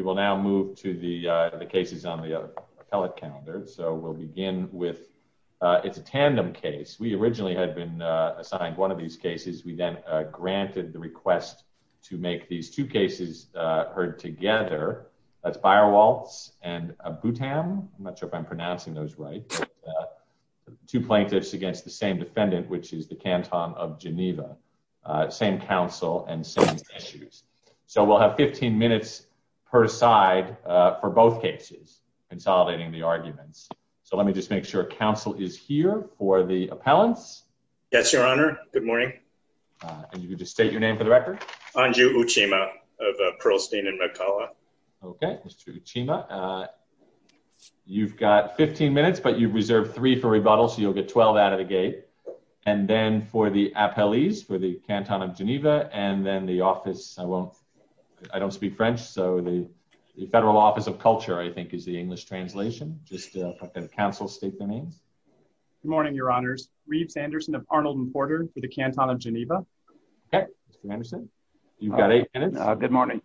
We will now move to the cases on the appellate calendar. So we'll begin with, it's a tandem case. We originally had been assigned one of these cases. We then granted the request to make these two cases heard together. That's Beierwaltes and Aboutaam, I'm not sure if I'm pronouncing those right, two plaintiffs against the same defendant, which is the Canton of Geneva, same counsel and same issues. We'll have 15 minutes per side for both cases, consolidating the arguments. So let me just make sure counsel is here for the appellants. Yes, your honor. Good morning. And you can just state your name for the record. Anju Uchima of Pearlstein and McCulloch. Okay, Mr. Uchima. You've got 15 minutes, but you've reserved three for rebuttal, so you'll get 12 out of the gate. And then for the appellees, for the Canton of Geneva, and then the office, I won't, I don't speak French. So the Federal Office of Culture, I think, is the English translation. Just let the counsel state their names. Good morning, your honors. Reeves Anderson of Arnold and Porter for the Canton of Geneva. Okay, Mr. Anderson, you've got eight minutes. Good morning.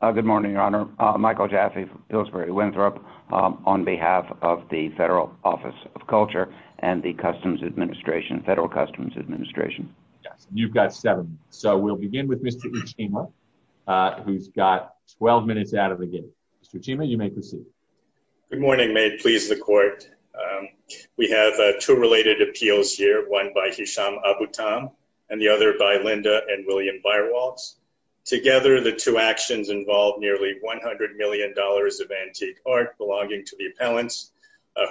Good morning, your honor. Michael Jaffe, Pillsbury Winthrop, on behalf of the Federal Office of Culture and the Customs Administration, Federal Customs Administration. You've got seven. So we'll begin with Mr. Uchima, who's got 12 minutes out of the gate. Mr. Uchima, you may proceed. Good morning. May it please the court. We have two related appeals here, one by Hisham Abutam, and the other by Linda and William Byerwaltz. Together, the two actions involve nearly $100 million of antique art belonging to the appellants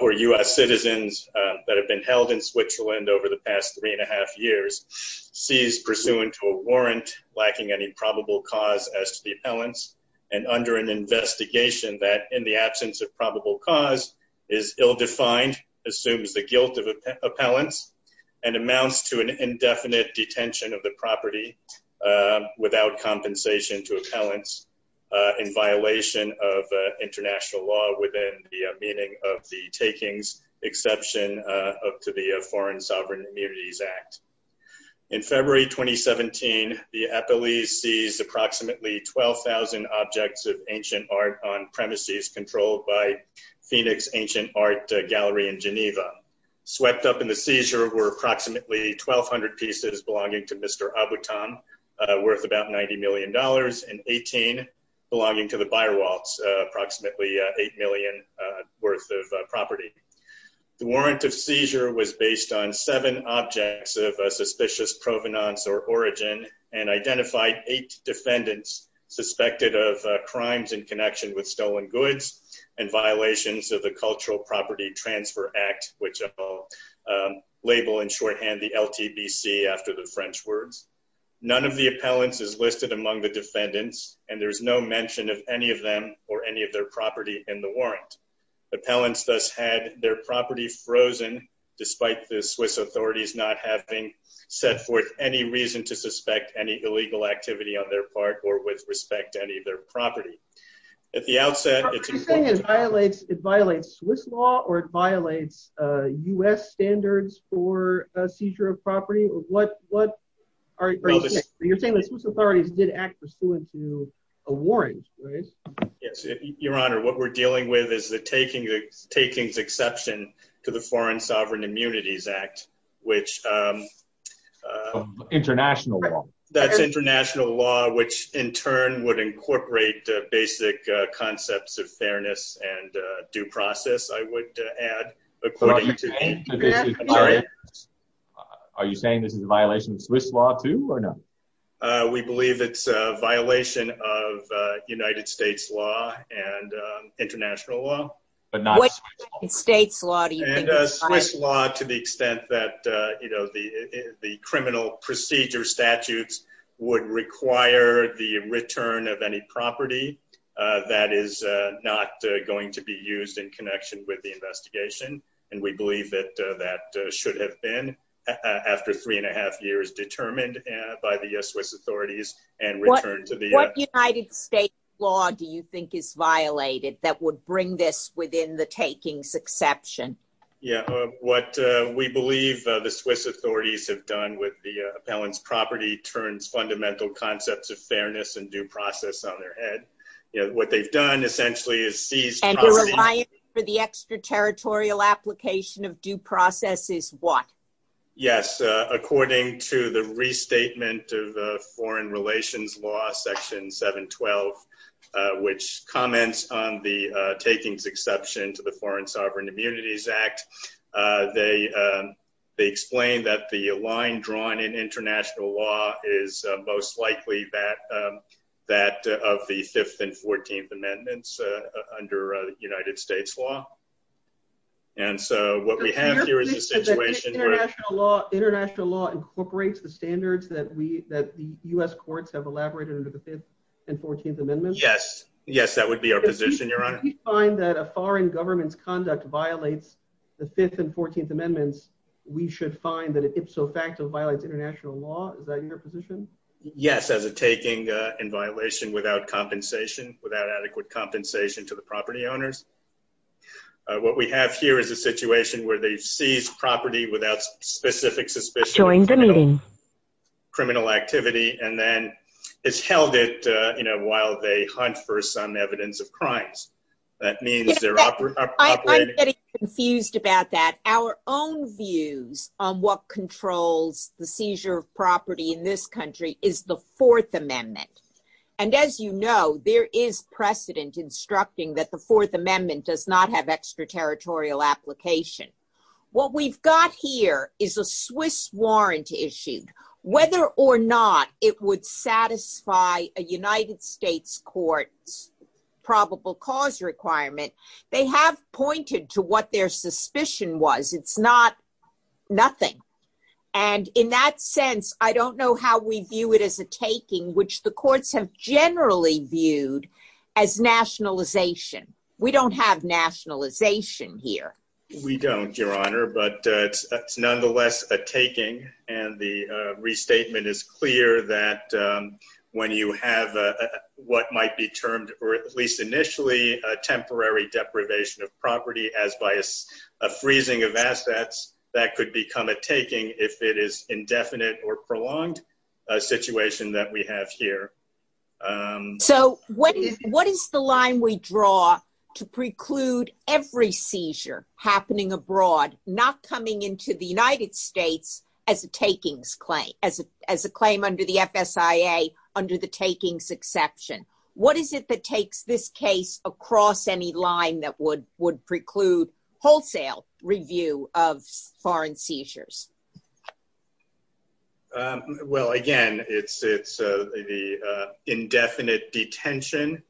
who are U.S. citizens that have been held in Switzerland over the past three and a half years, seized pursuant to a warrant lacking any probable cause as to the appellants, and under an investigation that, in the absence of probable cause, is ill-defined, assumes the guilt of appellants, and amounts to an indefinite detention of the property without compensation to appellants in violation of international law within the meaning of the takings exception to the Foreign Sovereign Immunities Act. In February 2017, the appellees seized approximately 12,000 objects of ancient art on premises controlled by Phoenix Ancient Art Gallery in Geneva. Swept up in the seizure were approximately 1,200 pieces belonging to Mr. Abutam, worth about $90 million, and 18 belonging to the Byerwaltz, approximately $8 million worth of property. The warrant of seizure was based on seven objects of suspicious provenance or origin and identified eight defendants suspected of crimes in connection with stolen goods and violations of the Cultural Property Transfer Act, which I'll label in shorthand the LTBC after the French words. None of the appellants is listed among the defendants, and there's no mention of any of them or any of their property in the warrant. Appellants thus had their property frozen despite the Swiss authorities not having set forth any reason to suspect any illegal activity on their part or with respect to any of their property. At the outset, it's important to- Are you saying it violates Swiss law or it violates US standards for a seizure of property? Or what are you saying? You're saying the Swiss authorities did act pursuant to a warrant, right? Your Honor, what we're dealing with is the takings exception to the Foreign Sovereign Immunities Act, which- International law. That's international law, which in turn would incorporate basic concepts of fairness and due process, I would add. Are you saying this is a violation of Swiss law too or no? We believe it's a violation of United States law and international law. But not- What United States law do you think- And Swiss law to the extent that the criminal procedure statutes would require the return of any property that is not going to be used in connection with the investigation. And we believe that that should have been, after three and a half years, determined by the Swiss authorities and returned to the- What United States law do you think is violated that would bring this within the takings exception? Yeah, what we believe the Swiss authorities have done with the appellant's property turns fundamental concepts of fairness and due process on their head. What they've done essentially is seized- And the reliance for the extraterritorial application of due process is what? Yes, according to the restatement of foreign relations law, section 712, which comments on the takings exception to the Foreign Sovereign Immunities Act, they explain that the line drawn in international law is most likely that of the 5th and 14th amendments under United States law. And so what we have here is a situation- International law incorporates the standards that the US courts have elaborated under the 5th and 14th amendments? Yes. Yes, that would be our position, Your Honor. If we find that a foreign government's conduct violates the 5th and 14th amendments, we should find that it ipso facto violates international law. Is that your position? Yes, as a taking in violation without compensation, without adequate compensation to the property owners. What we have here is a situation where they've seized property without specific suspicion- Joined the meeting. Criminal activity, and then it's held it while they hunt for some evidence of crimes. That means they're operating- I'm getting confused about that. Our own views on what controls the seizure of property in this country is the 4th amendment. And as you know, there is precedent instructing that the 4th amendment does not have extraterritorial application. What we've got here is a Swiss warrant issued. Whether or not it would satisfy a United States court's probable cause requirement, they have pointed to what their suspicion was. It's not nothing. And in that sense, I don't know how we view it as a taking, which the courts have generally viewed as nationalization. We don't have nationalization here. We don't, Your Honor, but it's nonetheless a taking. And the restatement is clear that when you have what might be termed, or at least initially, a temporary deprivation of property, as by a freezing of assets, that could become a taking if it is indefinite or prolonged a situation that we have here. So what is the line we draw to preclude every seizure happening abroad, not coming into the United States as a takings claim, as a claim under the FSIA under the takings exception? What is it that takes this case across any line that would preclude wholesale review of foreign seizures? Well, again, it's the indefinite detention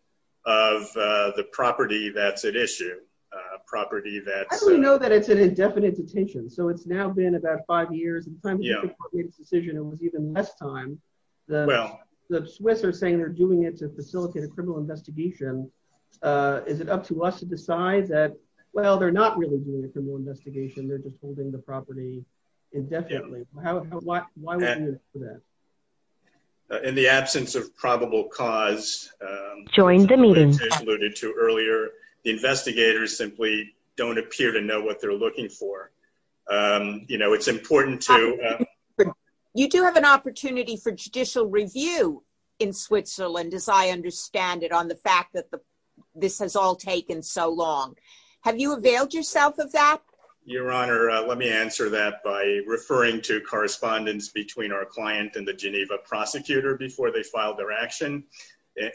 of the property that's at issue, a property that's... How do we know that it's an indefinite detention? So it's now been about five years, and the time before the court made its decision, it was even less time. The Swiss are saying they're doing it to facilitate a criminal investigation. Is it up to us to decide that, well, they're not really doing a criminal investigation, they're just holding the property indefinitely? Why would we do that? In the absence of probable cause, as I alluded to earlier, the investigators simply don't appear to know what they're looking for. It's important to... You do have an opportunity for judicial review in Switzerland, as I understand it, on the fact that this has all taken so long. Have you availed yourself of that? Your Honor, let me answer that by referring to correspondence between our client and the Geneva prosecutor before they filed their action.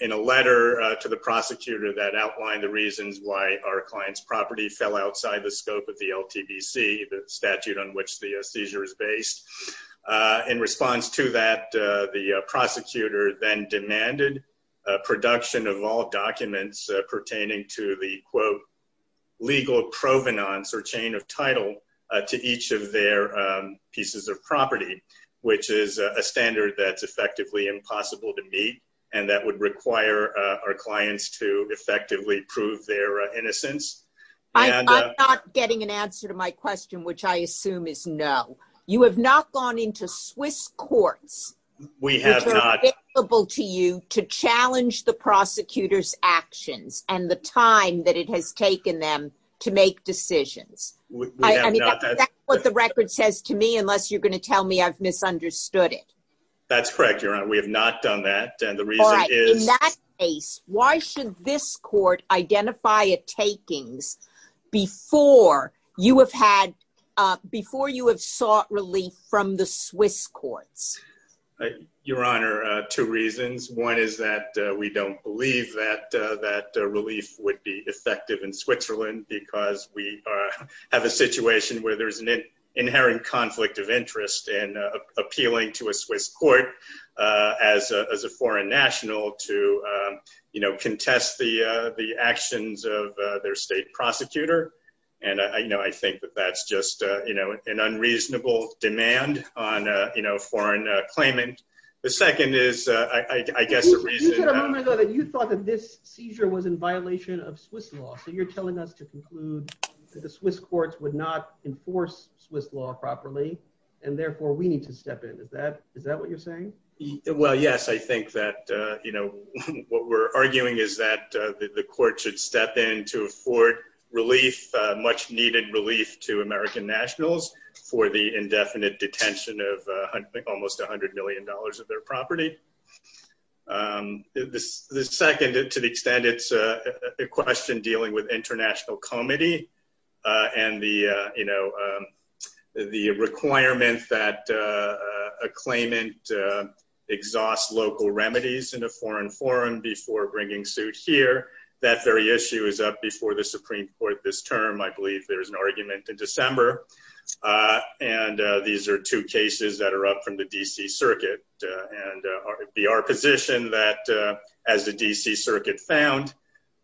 In a letter to the prosecutor that outlined the reasons why our client's property fell outside the scope of the LTBC, the statute on which the seizure is based. In response to that, the prosecutor then demanded production of all title to each of their pieces of property, which is a standard that's effectively impossible to meet and that would require our clients to effectively prove their innocence. I'm not getting an answer to my question, which I assume is no. You have not gone into Swiss courts that are available to you to challenge the prosecutor's actions and the time that it has taken them to make decisions. I mean, that's what the record says to me, unless you're going to tell me I've misunderstood it. That's correct, Your Honor. We have not done that. And the reason is... All right. In that case, why should this court identify a takings before you have sought relief from the Swiss courts? Your Honor, two reasons. One is that we don't believe that relief would be effective in Switzerland because we have a situation where there's an inherent conflict of interest in appealing to a Swiss court as a foreign national to contest the actions of their state prosecutor. And I think that that's just an unreasonable demand on foreign claimant. The second is, I guess, the reason... You said a moment ago that you thought that this seizure was in violation of Swiss law. So you're telling us to conclude that the Swiss courts would not enforce Swiss law properly and therefore we need to step in. Is that what you're saying? Well, yes. I think that what we're arguing is that the court should step in to afford much needed relief to American nationals for the indefinite detention of almost $100 million of their property. The second, to the extent it's a question dealing with international comity and the requirement that a claimant exhaust local remedies in a foreign forum before bringing suit here, that very issue is up before the Supreme Court this term. I believe there's an argument in December. And these are two cases that are up from the DC Circuit. And it would be our position that as the DC Circuit found,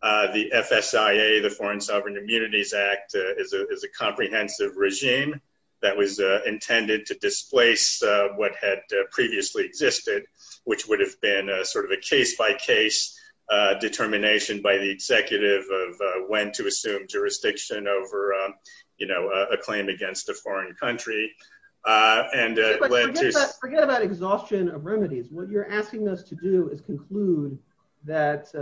the FSIA, the Foreign Sovereign Immunities Act, is a comprehensive regime that was intended to displace what had previously existed, which would have been a case-by-case determination by the executive of when to assume jurisdiction over a claim against a foreign country. Forget about exhaustion of remedies. What you're asking us to do is conclude that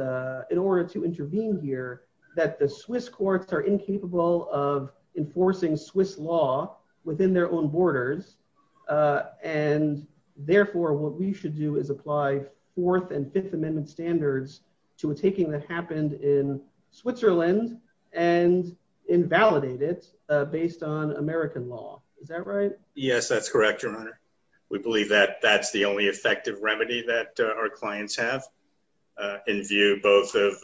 in order to intervene here, that the Swiss courts are incapable of enforcing Swiss law within their own borders. And therefore, what we should do is apply Fourth and Fifth Amendment standards to a taking that happened in Switzerland and invalidate it based on American law. Is that right? Yes, that's correct, Your Honor. We believe that that's the only effective remedy that our clients have in view both of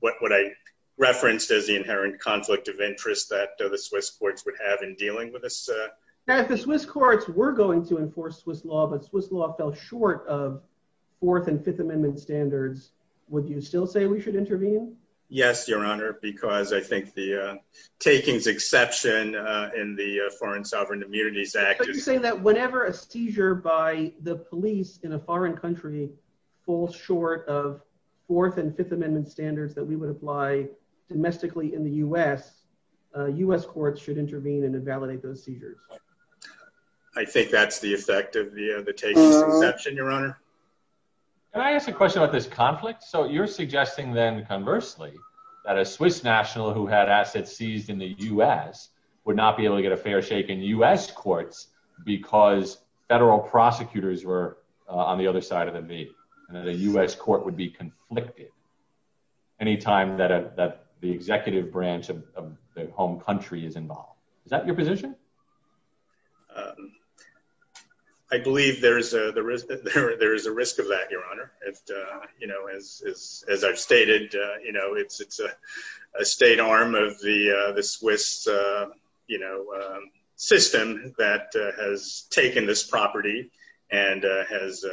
what I referenced as the inherent conflict of interest that the Swiss courts would have in dealing with this. Now, if the Swiss courts were going to enforce Swiss law, but Swiss law fell short of Fourth and Fifth Amendment standards, would you still say we should intervene? Yes, Your Honor, because I think the taking's exception in the Foreign Sovereign Immunities Act is... But you're saying that whenever a seizure by the police in a foreign country falls short of Fourth and Fifth Amendment standards that we would apply domestically in the U.S. courts should intervene and invalidate those seizures? I think that's the effect of the taking's exception, Your Honor. Can I ask a question about this conflict? So you're suggesting then conversely that a Swiss national who had assets seized in the U.S. would not be able to get a fair shake in U.S. courts because federal prosecutors were on the other side of the and that a U.S. court would be conflicted anytime that the executive branch of the home country is involved. Is that your position? I believe there is a risk of that, Your Honor. As I've stated, it's a state arm of the Swiss system that has taken this property and has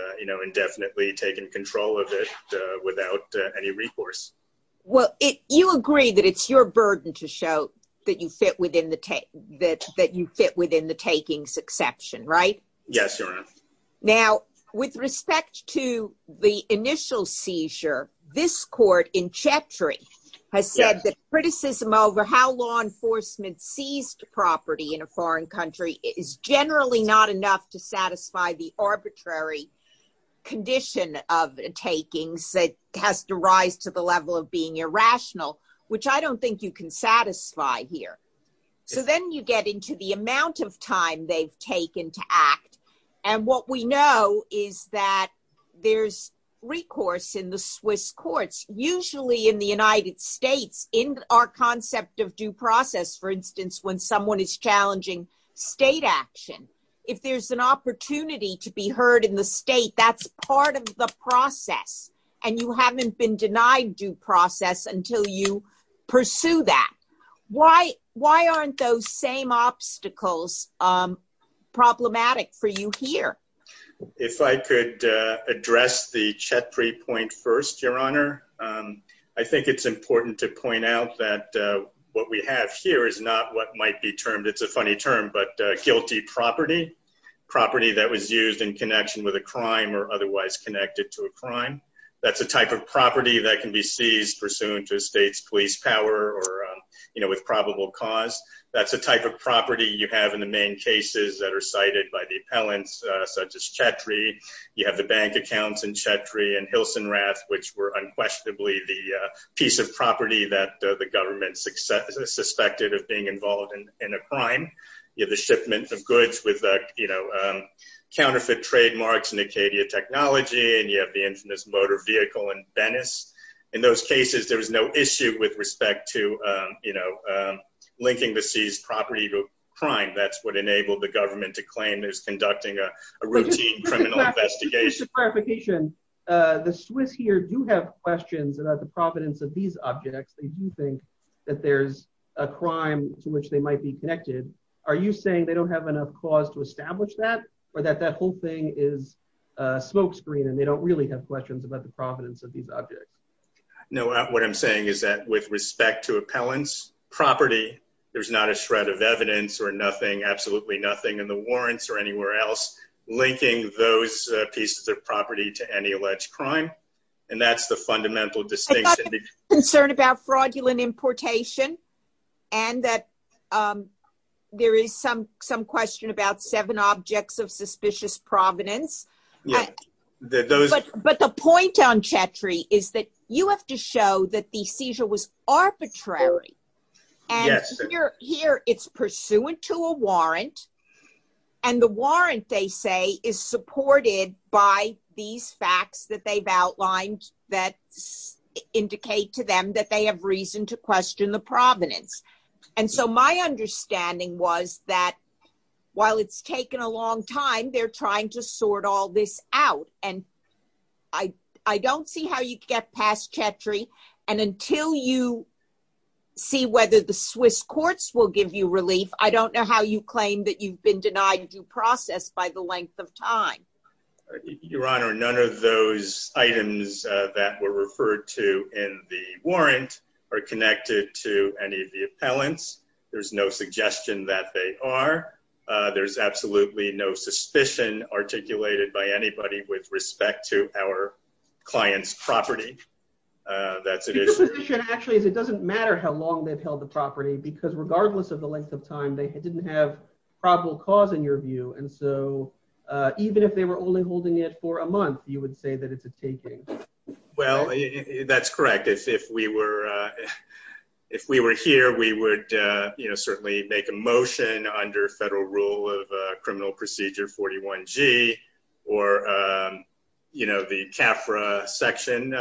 indefinitely taken control of it without any recourse. Well, you agree that it's your burden to show that you fit within the taking's exception, right? Yes, Your Honor. Now, with respect to the initial seizure, this court in Chetri has said that criticism over how law enforcement seized property in a foreign country is generally not enough to satisfy the arbitrary condition of takings that has to rise to the level of being irrational, which I don't think you can satisfy here. So then you get into the amount of time they've taken to act and what we know is that there's recourse in the Swiss courts, usually in the United States, in our concept of due process, for instance, when someone is challenging state action. If there's an opportunity to be heard in the state, that's part of the process and you haven't been denied due here. If I could address the Chetri point first, Your Honor. I think it's important to point out that what we have here is not what might be termed, it's a funny term, but guilty property, property that was used in connection with a crime or otherwise connected to a crime. That's a type of property that can be seized pursuant to a state's police power or with cause. That's a type of property you have in the main cases that are cited by the appellants, such as Chetri. You have the bank accounts in Chetri and Hilsenrath, which were unquestionably the piece of property that the government suspected of being involved in a crime. You have the shipment of goods with counterfeit trademarks and Acadia technology and you have the infamous motor vehicle in Venice. In those cases, there was no issue with respect to linking the seized property to a crime. That's what enabled the government to claim there's conducting a routine criminal investigation. Just a clarification, the Swiss here do have questions about the providence of these objects. They do think that there's a crime to which they might be connected. Are you saying they don't have enough cause to establish that or that that whole thing is a smokescreen and they don't really have questions about the providence of these property? There's not a shred of evidence or nothing, absolutely nothing in the warrants or anywhere else linking those pieces of property to any alleged crime. That's the fundamental distinction. Concern about fraudulent importation and that there is some question about seven objects of suspicious providence. The point on Chetri is that you have to show that the seizure was arbitrary. Here it's pursuant to a warrant and the warrant they say is supported by these facts that they've outlined that indicate to them that they have reason to question the providence. My understanding was that while it's taken a long time, they're trying to sort all this out and I don't see how you get past Chetri and until you see whether the Swiss courts will give you relief, I don't know how you claim that you've been denied due process by the length of time. Your Honor, none of those items that were referred to in the warrant are connected to any of the appellants. There's no suggestion that they are. There's absolutely no suspicion articulated by anybody with respect to our client's property. That's an issue. Actually, it doesn't matter how long they've held the property because regardless of the length of time, they didn't have probable cause in your view and so even if they were only holding it for a month, you would say that it's a taking. Well, that's correct. If we were here, we would certainly make a motion under federal rule of criminal procedure 41G or the CAFRA section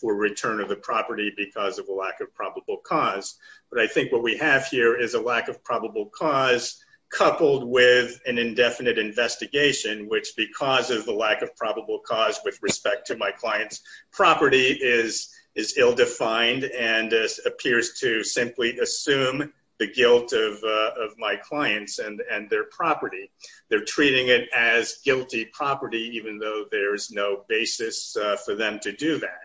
for return of the property because of a lack of probable cause but I think what we have here is a lack of probable cause coupled with an indefinite investigation which because of the lack of probable cause with respect to my client's property is ill-defined and appears to simply assume the guilt of my clients and their property. They're treating it as guilty property even though there's no basis for them to do that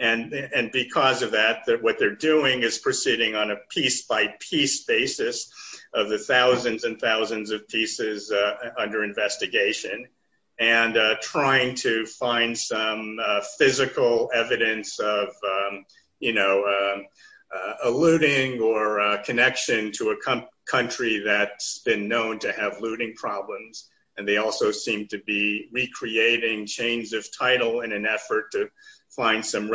and because of that, what they're doing is proceeding on a piece by piece basis of the thousands and thousands of pieces under investigation and trying to find some physical evidence of a looting or a connection to a country that's been known to have looting problems and they also seem to be recreating chains of title in an effort to find some an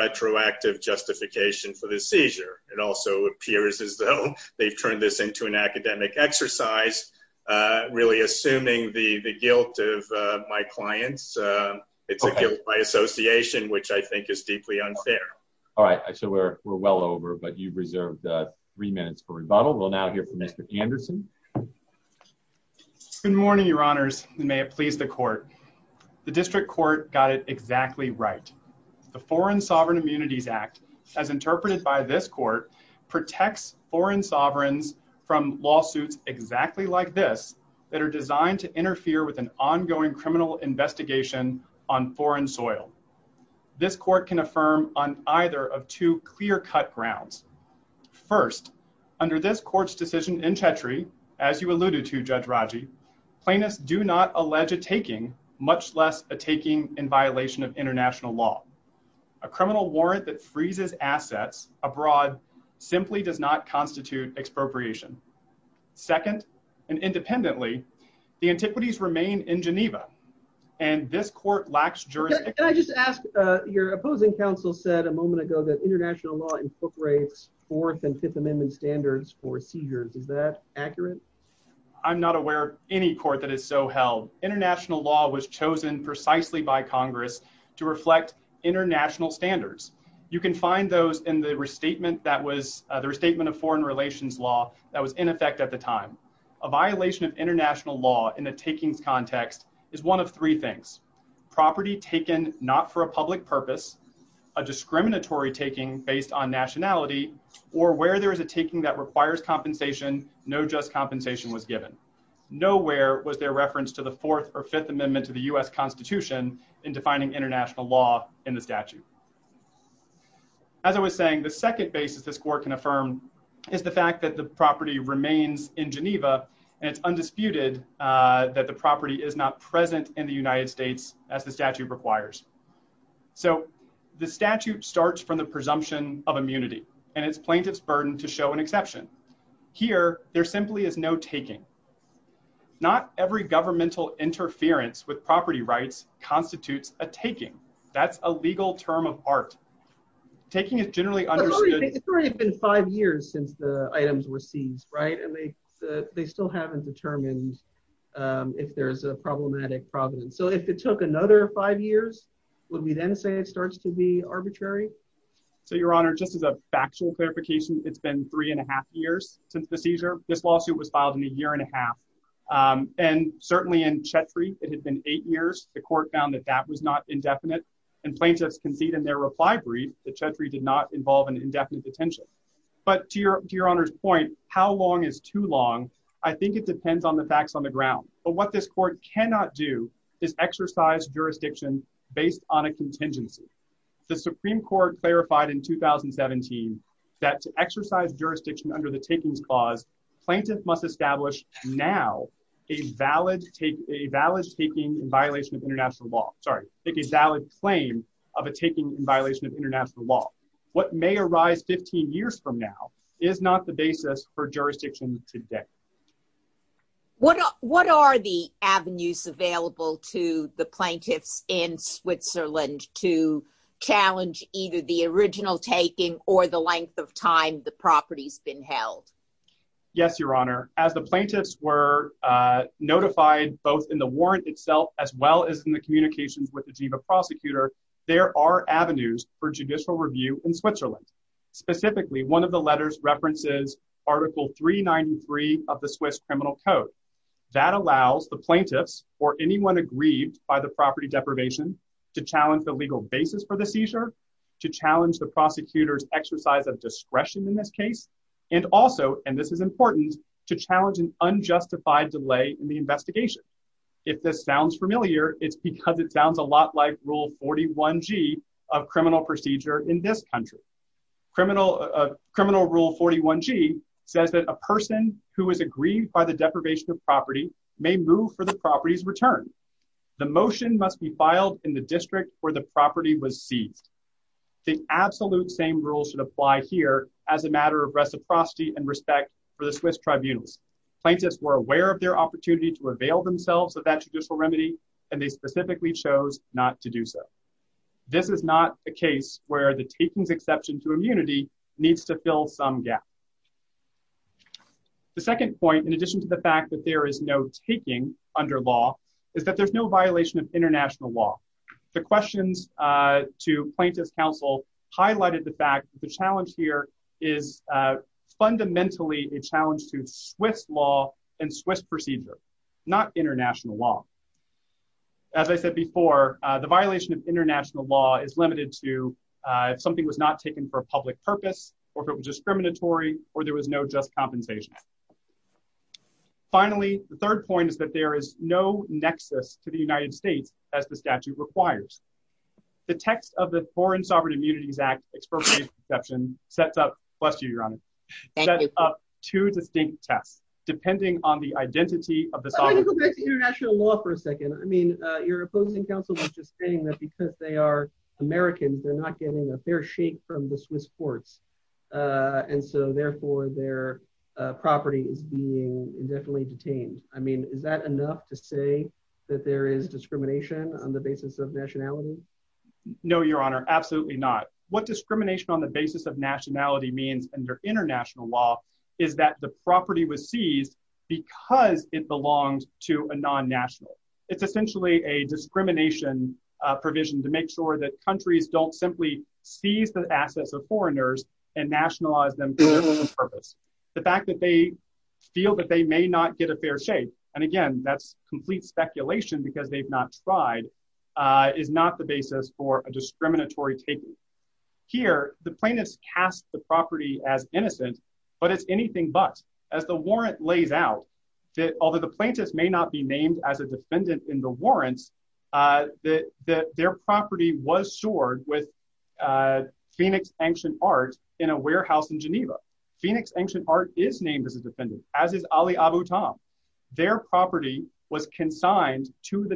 academic exercise really assuming the guilt of my clients. It's a guilt by association which I think is deeply unfair. All right, so we're well over but you've reserved three minutes for rebuttal. We'll now hear from Mr. Anderson. Good morning, your honors. May it please the court. The district court got it exactly right. The Foreign Sovereign Immunities Act as interpreted by this court protects foreign sovereigns from lawsuits exactly like this that are designed to interfere with an ongoing criminal investigation on foreign soil. This court can affirm on either of two clear-cut grounds. First, under this court's decision in Chetri, as you alluded to Judge Raji, plaintiffs do not allege a taking much less a taking in violation of international law. A criminal warrant that freezes assets abroad simply does not constitute expropriation. Second, and independently, the antiquities remain in Geneva and this court lacks jurisdiction. Can I just ask, your opposing counsel said a moment ago that international law incorporates fourth and fifth amendment standards for seizures. Is that accurate? I'm not aware of any court that is so held. International law was chosen precisely by Congress to reflect international standards. You can find those in the restatement that was the restatement of foreign relations law that was in effect at the time. A violation of international law in the takings context is one of three things. Property taken not for a public purpose, a discriminatory taking based on nationality, or where there is a taking that requires compensation, no just compensation was given. Nowhere was there reference to the fourth or fifth amendment to the U.S. Constitution in defining international law in the statute. As I was saying, the second basis this court can affirm is the fact that the property remains in Geneva and it's undisputed that the property is not present in the United States as the statute requires. So the statute starts from the presumption of immunity and it's plaintiff's burden to show an exception. Here there simply is no taking. Not every governmental interference with property rights constitutes a taking. That's a legal term of art. Taking is generally understood. It's already been five years since the items were seized, right? And they still haven't determined if there's a problematic provenance. So if it took another five years, would we then say it starts to be arbitrary? So your honor, just as a factual clarification, it's been three and a half years since the seizure. This lawsuit was filed in a year and a half. And certainly in Chetri it had been eight years. The court found that that was not indefinite and plaintiffs concede in their reply brief that Chetri did not involve an indefinite detention. But to your honor's point, how long is too long? I think it depends on the based on a contingency. The Supreme Court clarified in 2017 that to exercise jurisdiction under the takings clause, plaintiff must establish now a valid taking in violation of international law. Sorry, a valid claim of a taking in violation of international law. What may arise 15 years from now is not the basis for jurisdiction today. What are the avenues available to the plaintiffs in Switzerland to challenge either the original taking or the length of time the property's been held? Yes, your honor. As the plaintiffs were notified both in the warrant itself, as well as in the communications with the GIVA prosecutor, there are avenues for judicial review in Switzerland. Specifically, one of the letters references article 393 of the Swiss criminal code that allows the plaintiffs or anyone aggrieved by the property deprivation to challenge the legal basis for the seizure, to challenge the prosecutor's exercise of discretion in this case, and also, and this is important, to challenge an unjustified delay in the investigation. If this sounds familiar, it's because it sounds a lot like rule 41g of criminal procedure in this country. Criminal rule 41g says that a person who is aggrieved by the deprivation of property may move for the property's return. The motion must be filed in the district where the property was seized. The absolute same rules should apply here as a matter of reciprocity and respect for the Swiss tribunals. Plaintiffs were aware of their opportunity to avail themselves of that judicial exception to immunity needs to fill some gap. The second point, in addition to the fact that there is no taking under law, is that there's no violation of international law. The questions to plaintiffs' counsel highlighted the fact that the challenge here is fundamentally a challenge to Swiss law and Swiss procedure, not international law. As I said before, the violation of international law is limited to if something was not taken for a public purpose, or if it was discriminatory, or there was no just compensation. Finally, the third point is that there is no nexus to the United States as the statute requires. The text of the Foreign Sovereign Immunities Act expropriation exception sets up, bless you, Your Honor, sets up two distinct tests depending on the identity of the sovereign. I want to go back to international law for a second. I mean, your opposing counsel was just saying that because they are Americans, they're not getting a fair shake from the Swiss courts, and so therefore their property is being indefinitely detained. I mean, is that enough to say that there is discrimination on the basis of nationality? No, Your Honor, absolutely not. What discrimination on the basis of nationality means under international law is that the property was seized because it belonged to a non-national. It's essentially a discrimination provision to make sure that countries don't simply seize the assets of foreigners and nationalize them for their own purpose. The fact that they feel that they may not get a fair shake, and again, that's complete speculation because they've not tried, is not the basis for a discriminatory taking. Here, the plaintiffs cast the property as innocent, but it's anything but. As the warrant lays out, that although the plaintiffs may not be named as a defendant in the warrants, that their property was stored with Phoenix Ancient Art in a warehouse in Geneva. Phoenix Ancient Art is named as a defendant, as is Ali Abu Tam. Their property was consigned to the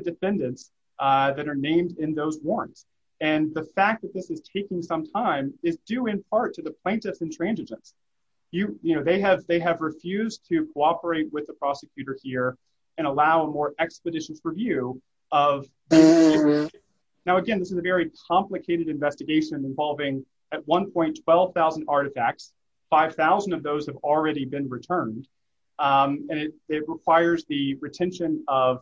some time is due in part to the plaintiff's intransigence. You know, they have refused to cooperate with the prosecutor here and allow a more expeditious review of. Now, again, this is a very complicated investigation involving, at one point, 12,000 artifacts. 5,000 of those have already been returned, and it requires the retention of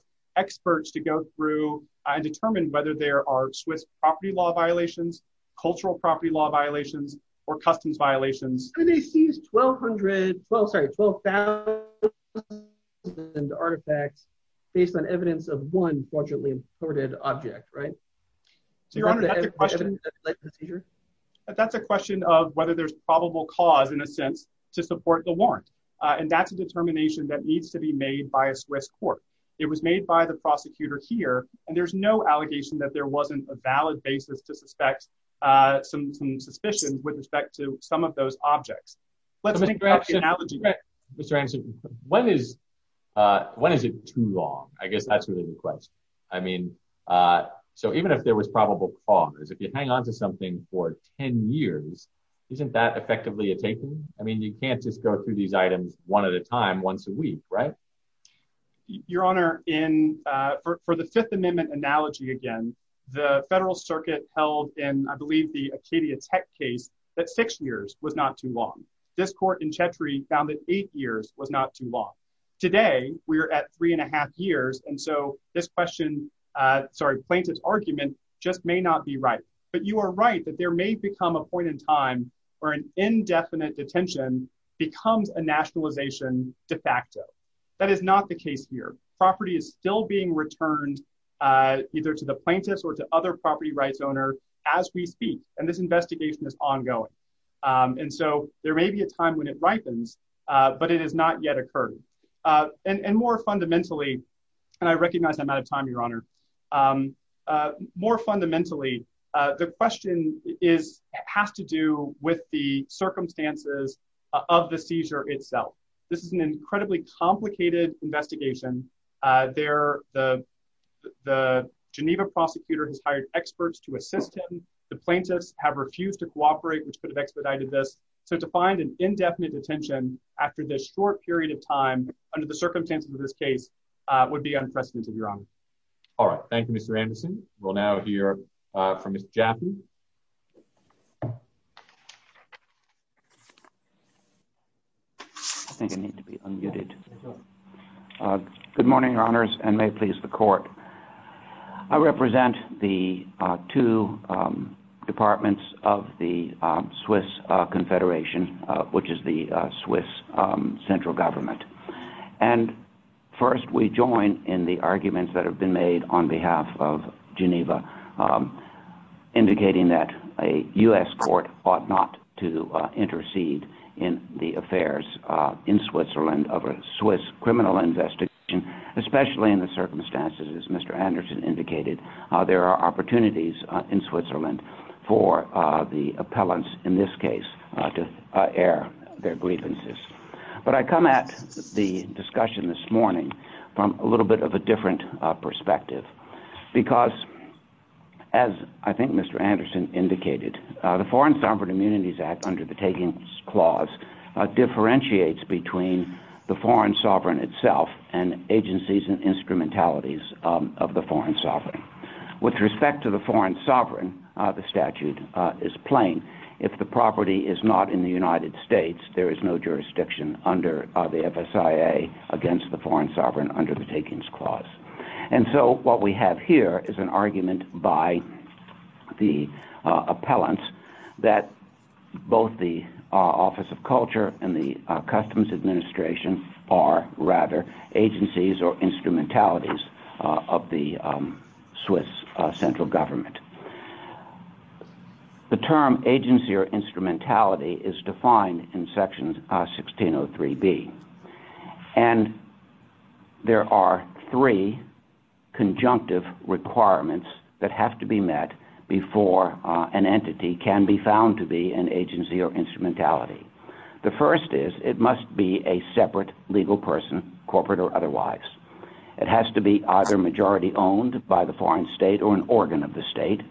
cultural property law violations or customs violations. And they seized 12,000 artifacts based on evidence of one fortunately imported object, right? That's a question of whether there's probable cause, in a sense, to support the warrant, and that's a determination that needs to be made by a Swiss court. It was made by the prosecutor here, and there's no allegation that there wasn't a valid basis to suspect some suspicions with respect to some of those objects. Mr. Anderson, when is it too long? I guess that's really the question. I mean, so even if there was probable cause, if you hang on to something for 10 years, isn't that effectively a taking? I mean, you can't just go through these items one at a time, once a week, right? Your Honor, for the Fifth Amendment analogy again, the Federal Circuit held in, I believe, the Acadia Tech case that six years was not too long. This court in Chetri found that eight years was not too long. Today, we are at three and a half years, and so this question, sorry, plaintiff's argument just may not be right. But you are right that there may become a point in time where an indefinite detention becomes a nationalization de facto. That is not the case here. Property is still being returned either to the plaintiffs or to other property rights owner as we speak, and this investigation is ongoing. And so there may be a time when it ripens, but it has not yet occurred. And more fundamentally, and I recognize I'm out of time, Your Honor, more fundamentally, the question has to do with the circumstances of the seizure itself. This is an incredibly complicated investigation. The Geneva prosecutor has hired experts to assist him. The plaintiffs have refused to cooperate, which could have expedited this. So to find an indefinite detention after this short period of time under the circumstances of this case would be unprecedented, Your Honor. All right. Thank you, Mr. Anderson. We'll now hear from Mr. Jaffee. I think I need to be unmuted. Good morning, Your Honors, and may it please the court. I represent the two departments of the Swiss central government. And first we join in the arguments that have been made on behalf of Geneva indicating that a U.S. court ought not to intercede in the affairs in Switzerland of a Swiss criminal investigation, especially in the circumstances, as Mr. Anderson indicated, there are opportunities in Switzerland for the appellants in this case to air their grievances. But I come at the discussion this morning from a little bit of a different perspective, because as I think Mr. Anderson indicated, the Foreign Sovereign Immunities Act under the taking clause differentiates between the foreign sovereign itself and agencies and instrumentalities of the foreign sovereign. With respect to the foreign sovereign, the statute is plain. If the property is not in the United States, there is no jurisdiction under the FSIA against the foreign sovereign under the takings clause. And so what we have here is an argument by the appellants that both the Office of Culture and the Customs Administration are rather agencies or Swiss central government. The term agency or instrumentality is defined in section 1603B. And there are three conjunctive requirements that have to be met before an entity can be found to be an agency or instrumentality. The first is it must be a separate legal person, corporate or otherwise. It has to be either majority owned by the foreign state or an organ of the state.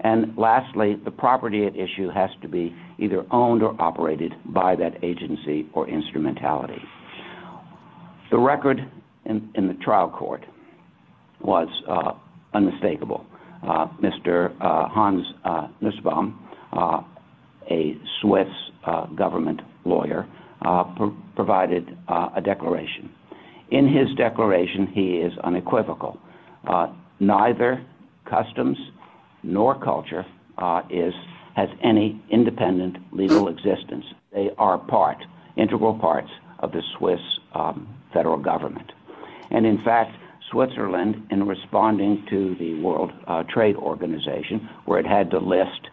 And lastly, the property at issue has to be either owned or operated by that agency or instrumentality. The record in the trial court was unmistakable. Mr. Hans Nussbaum, a Swiss government lawyer, provided a declaration. In his declaration, he is unequivocal. Neither customs nor culture has any independent legal existence. They are part, integral parts of the Swiss federal government. And in fact, Switzerland in responding to the World Trade Organization, where it had to list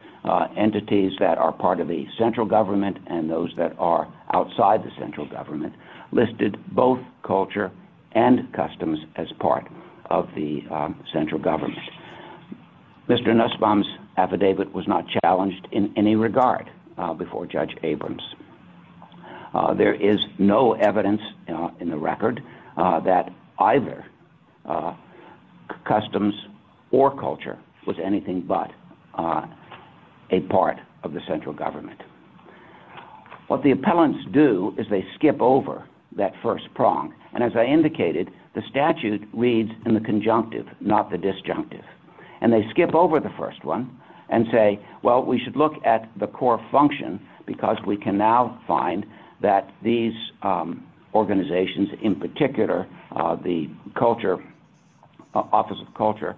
entities that are part of the central government and those that are outside the central government, listed both culture and customs as part of the central government. Mr. Nussbaum's affidavit was not challenged in any regard before Judge Abrams. There is no evidence in the record that either customs or culture was anything but a part of the central government. What the appellants do is they skip over that first prong. And as I indicated, the statute reads in the conjunctive, not the disjunctive. And they skip over the first one and say, well, we should look at the core function because we can now find that these organizations, in particular, the culture, Office of Culture,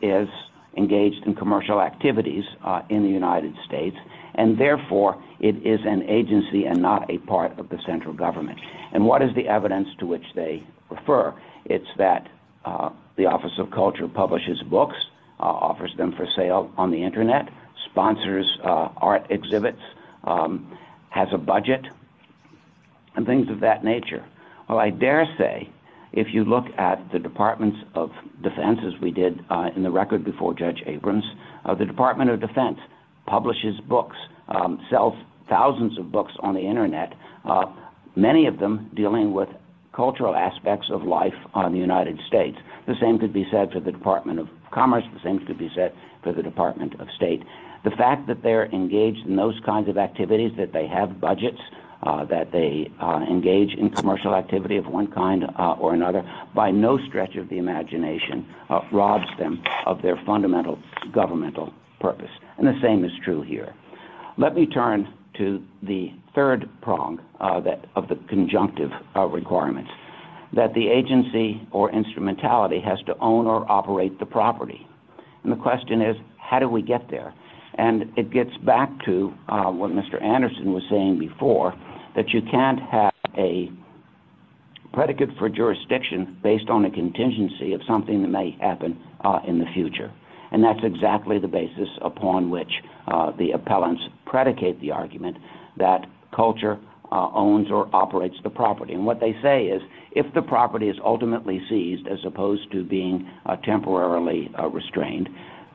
is engaged in commercial activities in the United States. And therefore, it is an agency and not a part of the central government. And what is the evidence to which they refer? It's that the Office of Culture and things of that nature. Well, I dare say, if you look at the Departments of Defense, as we did in the record before Judge Abrams, the Department of Defense publishes books, sells thousands of books on the internet, many of them dealing with cultural aspects of life on the United States. The same could be said for the Department of Commerce. The same could be said for the Department of State. The fact that they're engaged in those kinds of activities, that they have budgets, that they engage in commercial activity of one kind or another, by no stretch of the imagination, robs them of their fundamental governmental purpose. And the same is true here. Let me turn to the third prong of the conjunctive requirements, that the agency or instrumentality has to own or operate the property. And the question is, how do we get there? And it gets back to what Mr. Anderson was saying before, that you can't have a predicate for jurisdiction based on a contingency of something that may happen in the future. And that's exactly the basis upon which the appellants predicate the argument that culture owns or operates the property. And what they say is, if the property is ultimately seized, as opposed to being temporarily restrained,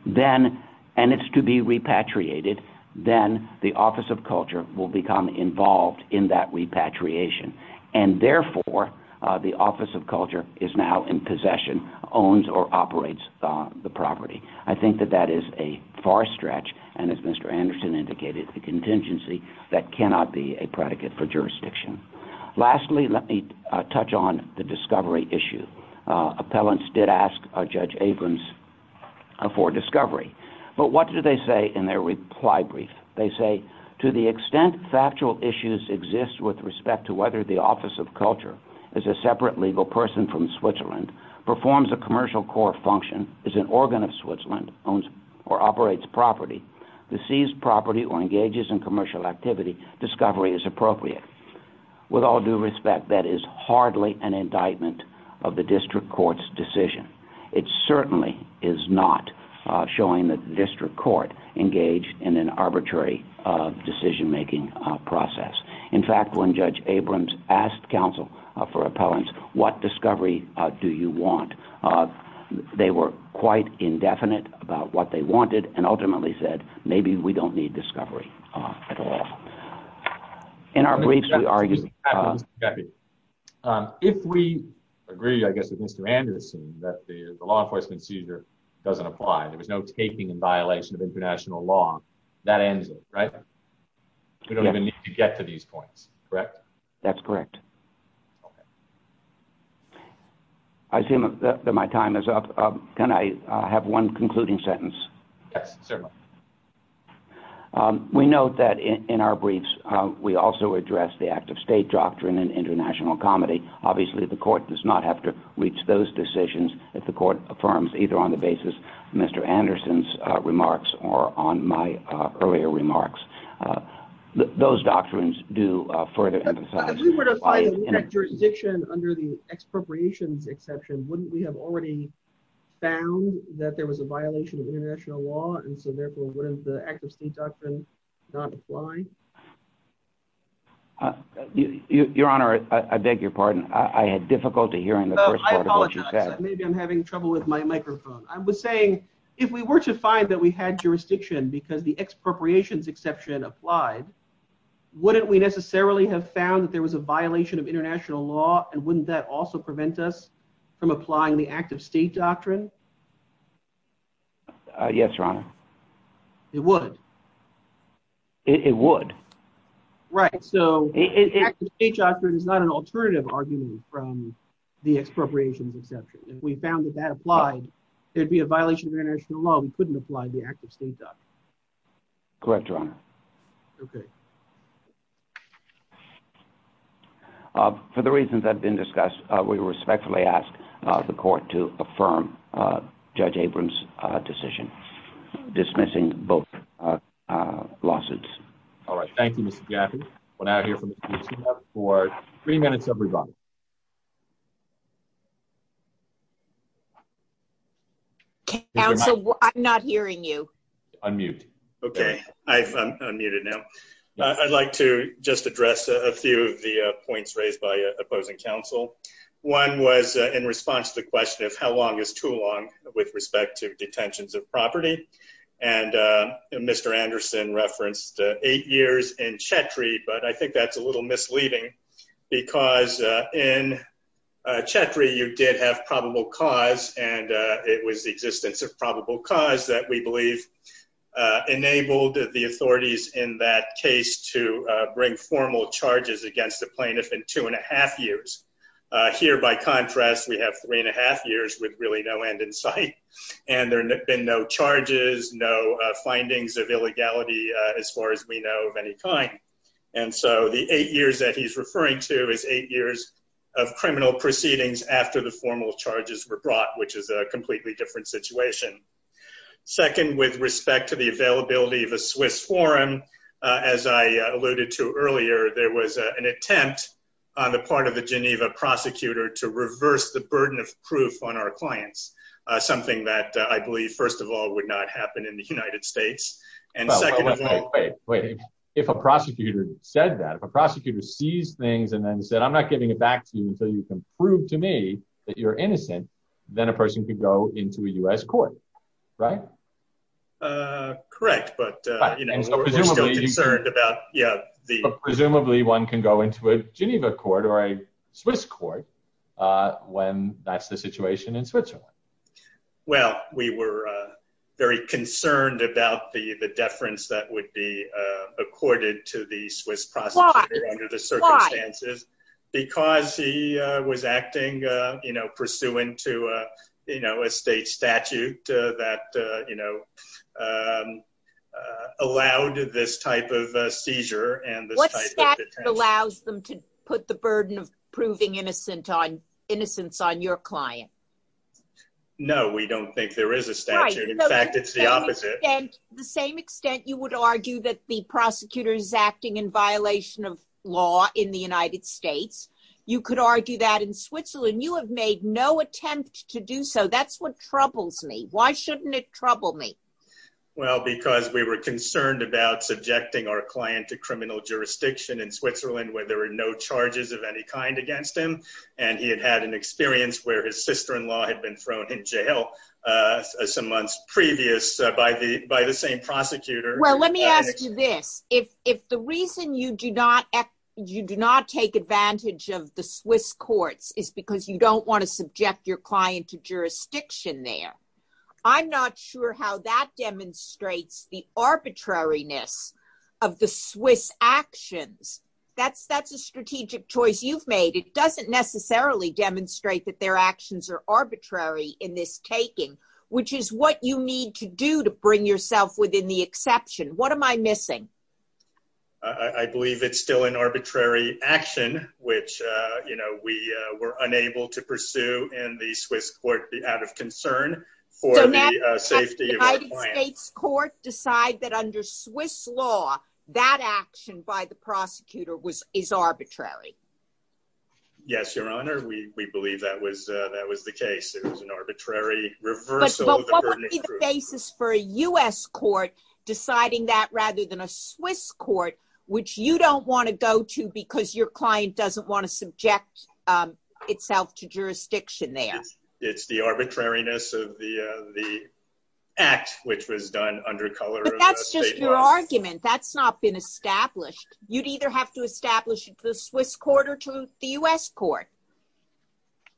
and it's to be repatriated, then the Office of Culture will become involved in that repatriation. And therefore, the Office of Culture is now in possession, owns or operates the property. I think that that is a far stretch, and as Mr. Anderson indicated, a contingency that cannot be a predicate for jurisdiction. Lastly, let me touch on the discovery issue. Appellants did ask Judge Abrams for discovery. But what do they say in their reply brief? They say, to the extent factual issues exist with respect to whether the Office of Culture is a separate legal person from Switzerland, performs a commercial core function, is an organ of Switzerland, owns or operates property, the seized property or engages in commercial activity, discovery is appropriate. With all due respect, that is hardly an indictment of the district court's decision. It certainly is not showing that the district court engaged in an arbitrary decision making process. In fact, when Judge Abrams asked counsel for appellants, what discovery do you want? They were quite indefinite about what they wanted and ultimately said, maybe we don't need discovery at all. In our briefs, we argue... If we agree, I guess, with Mr. Anderson, that the law enforcement seizure doesn't apply, there was no taking in violation of international law, that ends it, right? We don't even need to get to these points, correct? That's correct. Okay. I assume that my time is up. Can I have one concluding sentence? Yes, certainly. We note that in our briefs, we also address the act of state doctrine in international comedy. Obviously, the court does not have to reach those decisions if the court affirms either on the basis of Mr. Anderson's remarks or on my earlier remarks. Those doctrines do further... If we were to find jurisdiction under the expropriations exception, wouldn't we have already found that there was a violation of international law, and so therefore, wouldn't the act of state doctrine not apply? Your Honor, I beg your pardon. I had difficulty hearing the first part of what you said. I apologize. Maybe I'm having trouble with my microphone. I was saying, if we were to find that we had jurisdiction because the expropriations exception applied, wouldn't we necessarily have found that there was a violation of international law, and wouldn't that also prevent us from applying the act of state doctrine? Yes, Your Honor. It would. It would. Right. So the act of state doctrine is not an alternative argument from the expropriations exception. If we found that that applied, there'd be a violation of international law, we couldn't apply the act of state doctrine. Correct, Your Honor. Okay. For the reasons that have been discussed, we respectfully ask the court to affirm Judge Abrams' decision dismissing both lawsuits. All right. Thank you, Mr. Gaffney. We'll now hear from Ms. Gutierrez for three minutes, everybody. Counsel, I'm not hearing you. Unmute. Okay. I'm unmuted now. I'd like to just address a few of the points raised by opposing counsel. One was in response to the question of how long is too long with respect to detentions of property, and Mr. Anderson referenced eight years in Chetri, but I think that's a little misleading because in Chetri, you did have probable cause, and it was the existence of probable cause that we believe enabled the authorities in that case to bring formal charges against the plaintiff in two and a half years. Here, by contrast, we have three and a half years with really no end in sight, and there have been no charges, no findings of illegality as far as we know of any kind, and so the eight years that he's referring to is eight years of criminal proceedings after the formal charges were brought, which is a completely different situation. Second, with respect to the availability of a Swiss forum, as I alluded to earlier, there was an attempt on the part of the Geneva prosecutor to reverse the burden of proof on our clients, something that I believe, first of all, would not happen in the United States, and second of all- Wait, wait. If a prosecutor said that, if a prosecutor sees things and then said, I'm not giving it back to you until you can prove to me that you're innocent, then a person could go into a US court, right? Correct, but we're still concerned about the- Presumably one can go into a Geneva court or a Swiss court when that's the situation in Switzerland. Well, we were very concerned about the deference that would be accorded to the Swiss prosecutor under the circumstances because he was acting pursuant to a state statute that allowed this type of seizure and this type of detention. What statute allows them to put the burden of proving innocence on your client? No, we don't think there is a statute. In fact, it's the opposite. The same extent you would argue that the prosecutor is acting in violation of law in the United States, you could argue that in Switzerland, you have made no attempt to do so. That's what troubles me. Why shouldn't it trouble me? Well, because we were concerned about subjecting our client to criminal jurisdiction in Switzerland where there were no charges of any kind against him, and he had had an experience where his sister in law had been thrown in jail some months previous by the same prosecutor. Well, let me ask you this. If the reason you do not take advantage of the Swiss courts is because you don't want to subject your client to jurisdiction there, I'm not sure how that demonstrates the arbitrariness of the Swiss actions. That's a strategic choice you've made. It doesn't necessarily demonstrate that their actions are arbitrary in this taking, which is what you need to do to bring yourself within the exception. What am I missing? I believe it's still an arbitrary action, which we were unable to pursue in the Swiss court out of concern for the safety of our client. So now the United States court decide that under Swiss law, that action by the prosecutor is arbitrary? Yes, Your Honor. We believe that was the case. It was an arbitrary reversal. But what would be the basis for a US court deciding that rather than a Swiss court, which you don't want to go to because your client doesn't want to subject itself to jurisdiction there? It's the arbitrariness of the act, which was done under color- But that's just your argument. That's not been established. You'd either have to establish it to the Swiss court or to the US court.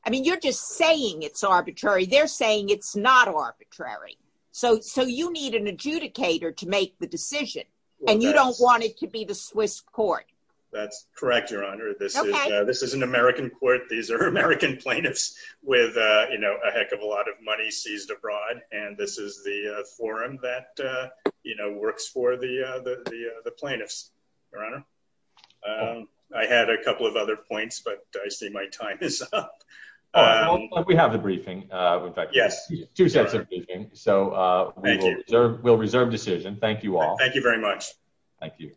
I mean, you're just saying it's arbitrary. They're saying it's not arbitrary. So you need an adjudicator to make the decision and you don't want it to be the Swiss court. That's correct, Your Honor. This is an American court. These are American plaintiffs with a heck of a lot of money seized abroad. And this is the forum that works for the plaintiffs. Your Honor, I had a couple of other points, but I see my time is up. We have the briefing. In fact, two sets of briefing. So we'll reserve decision. Thank you all. Thank you very much. Thank you.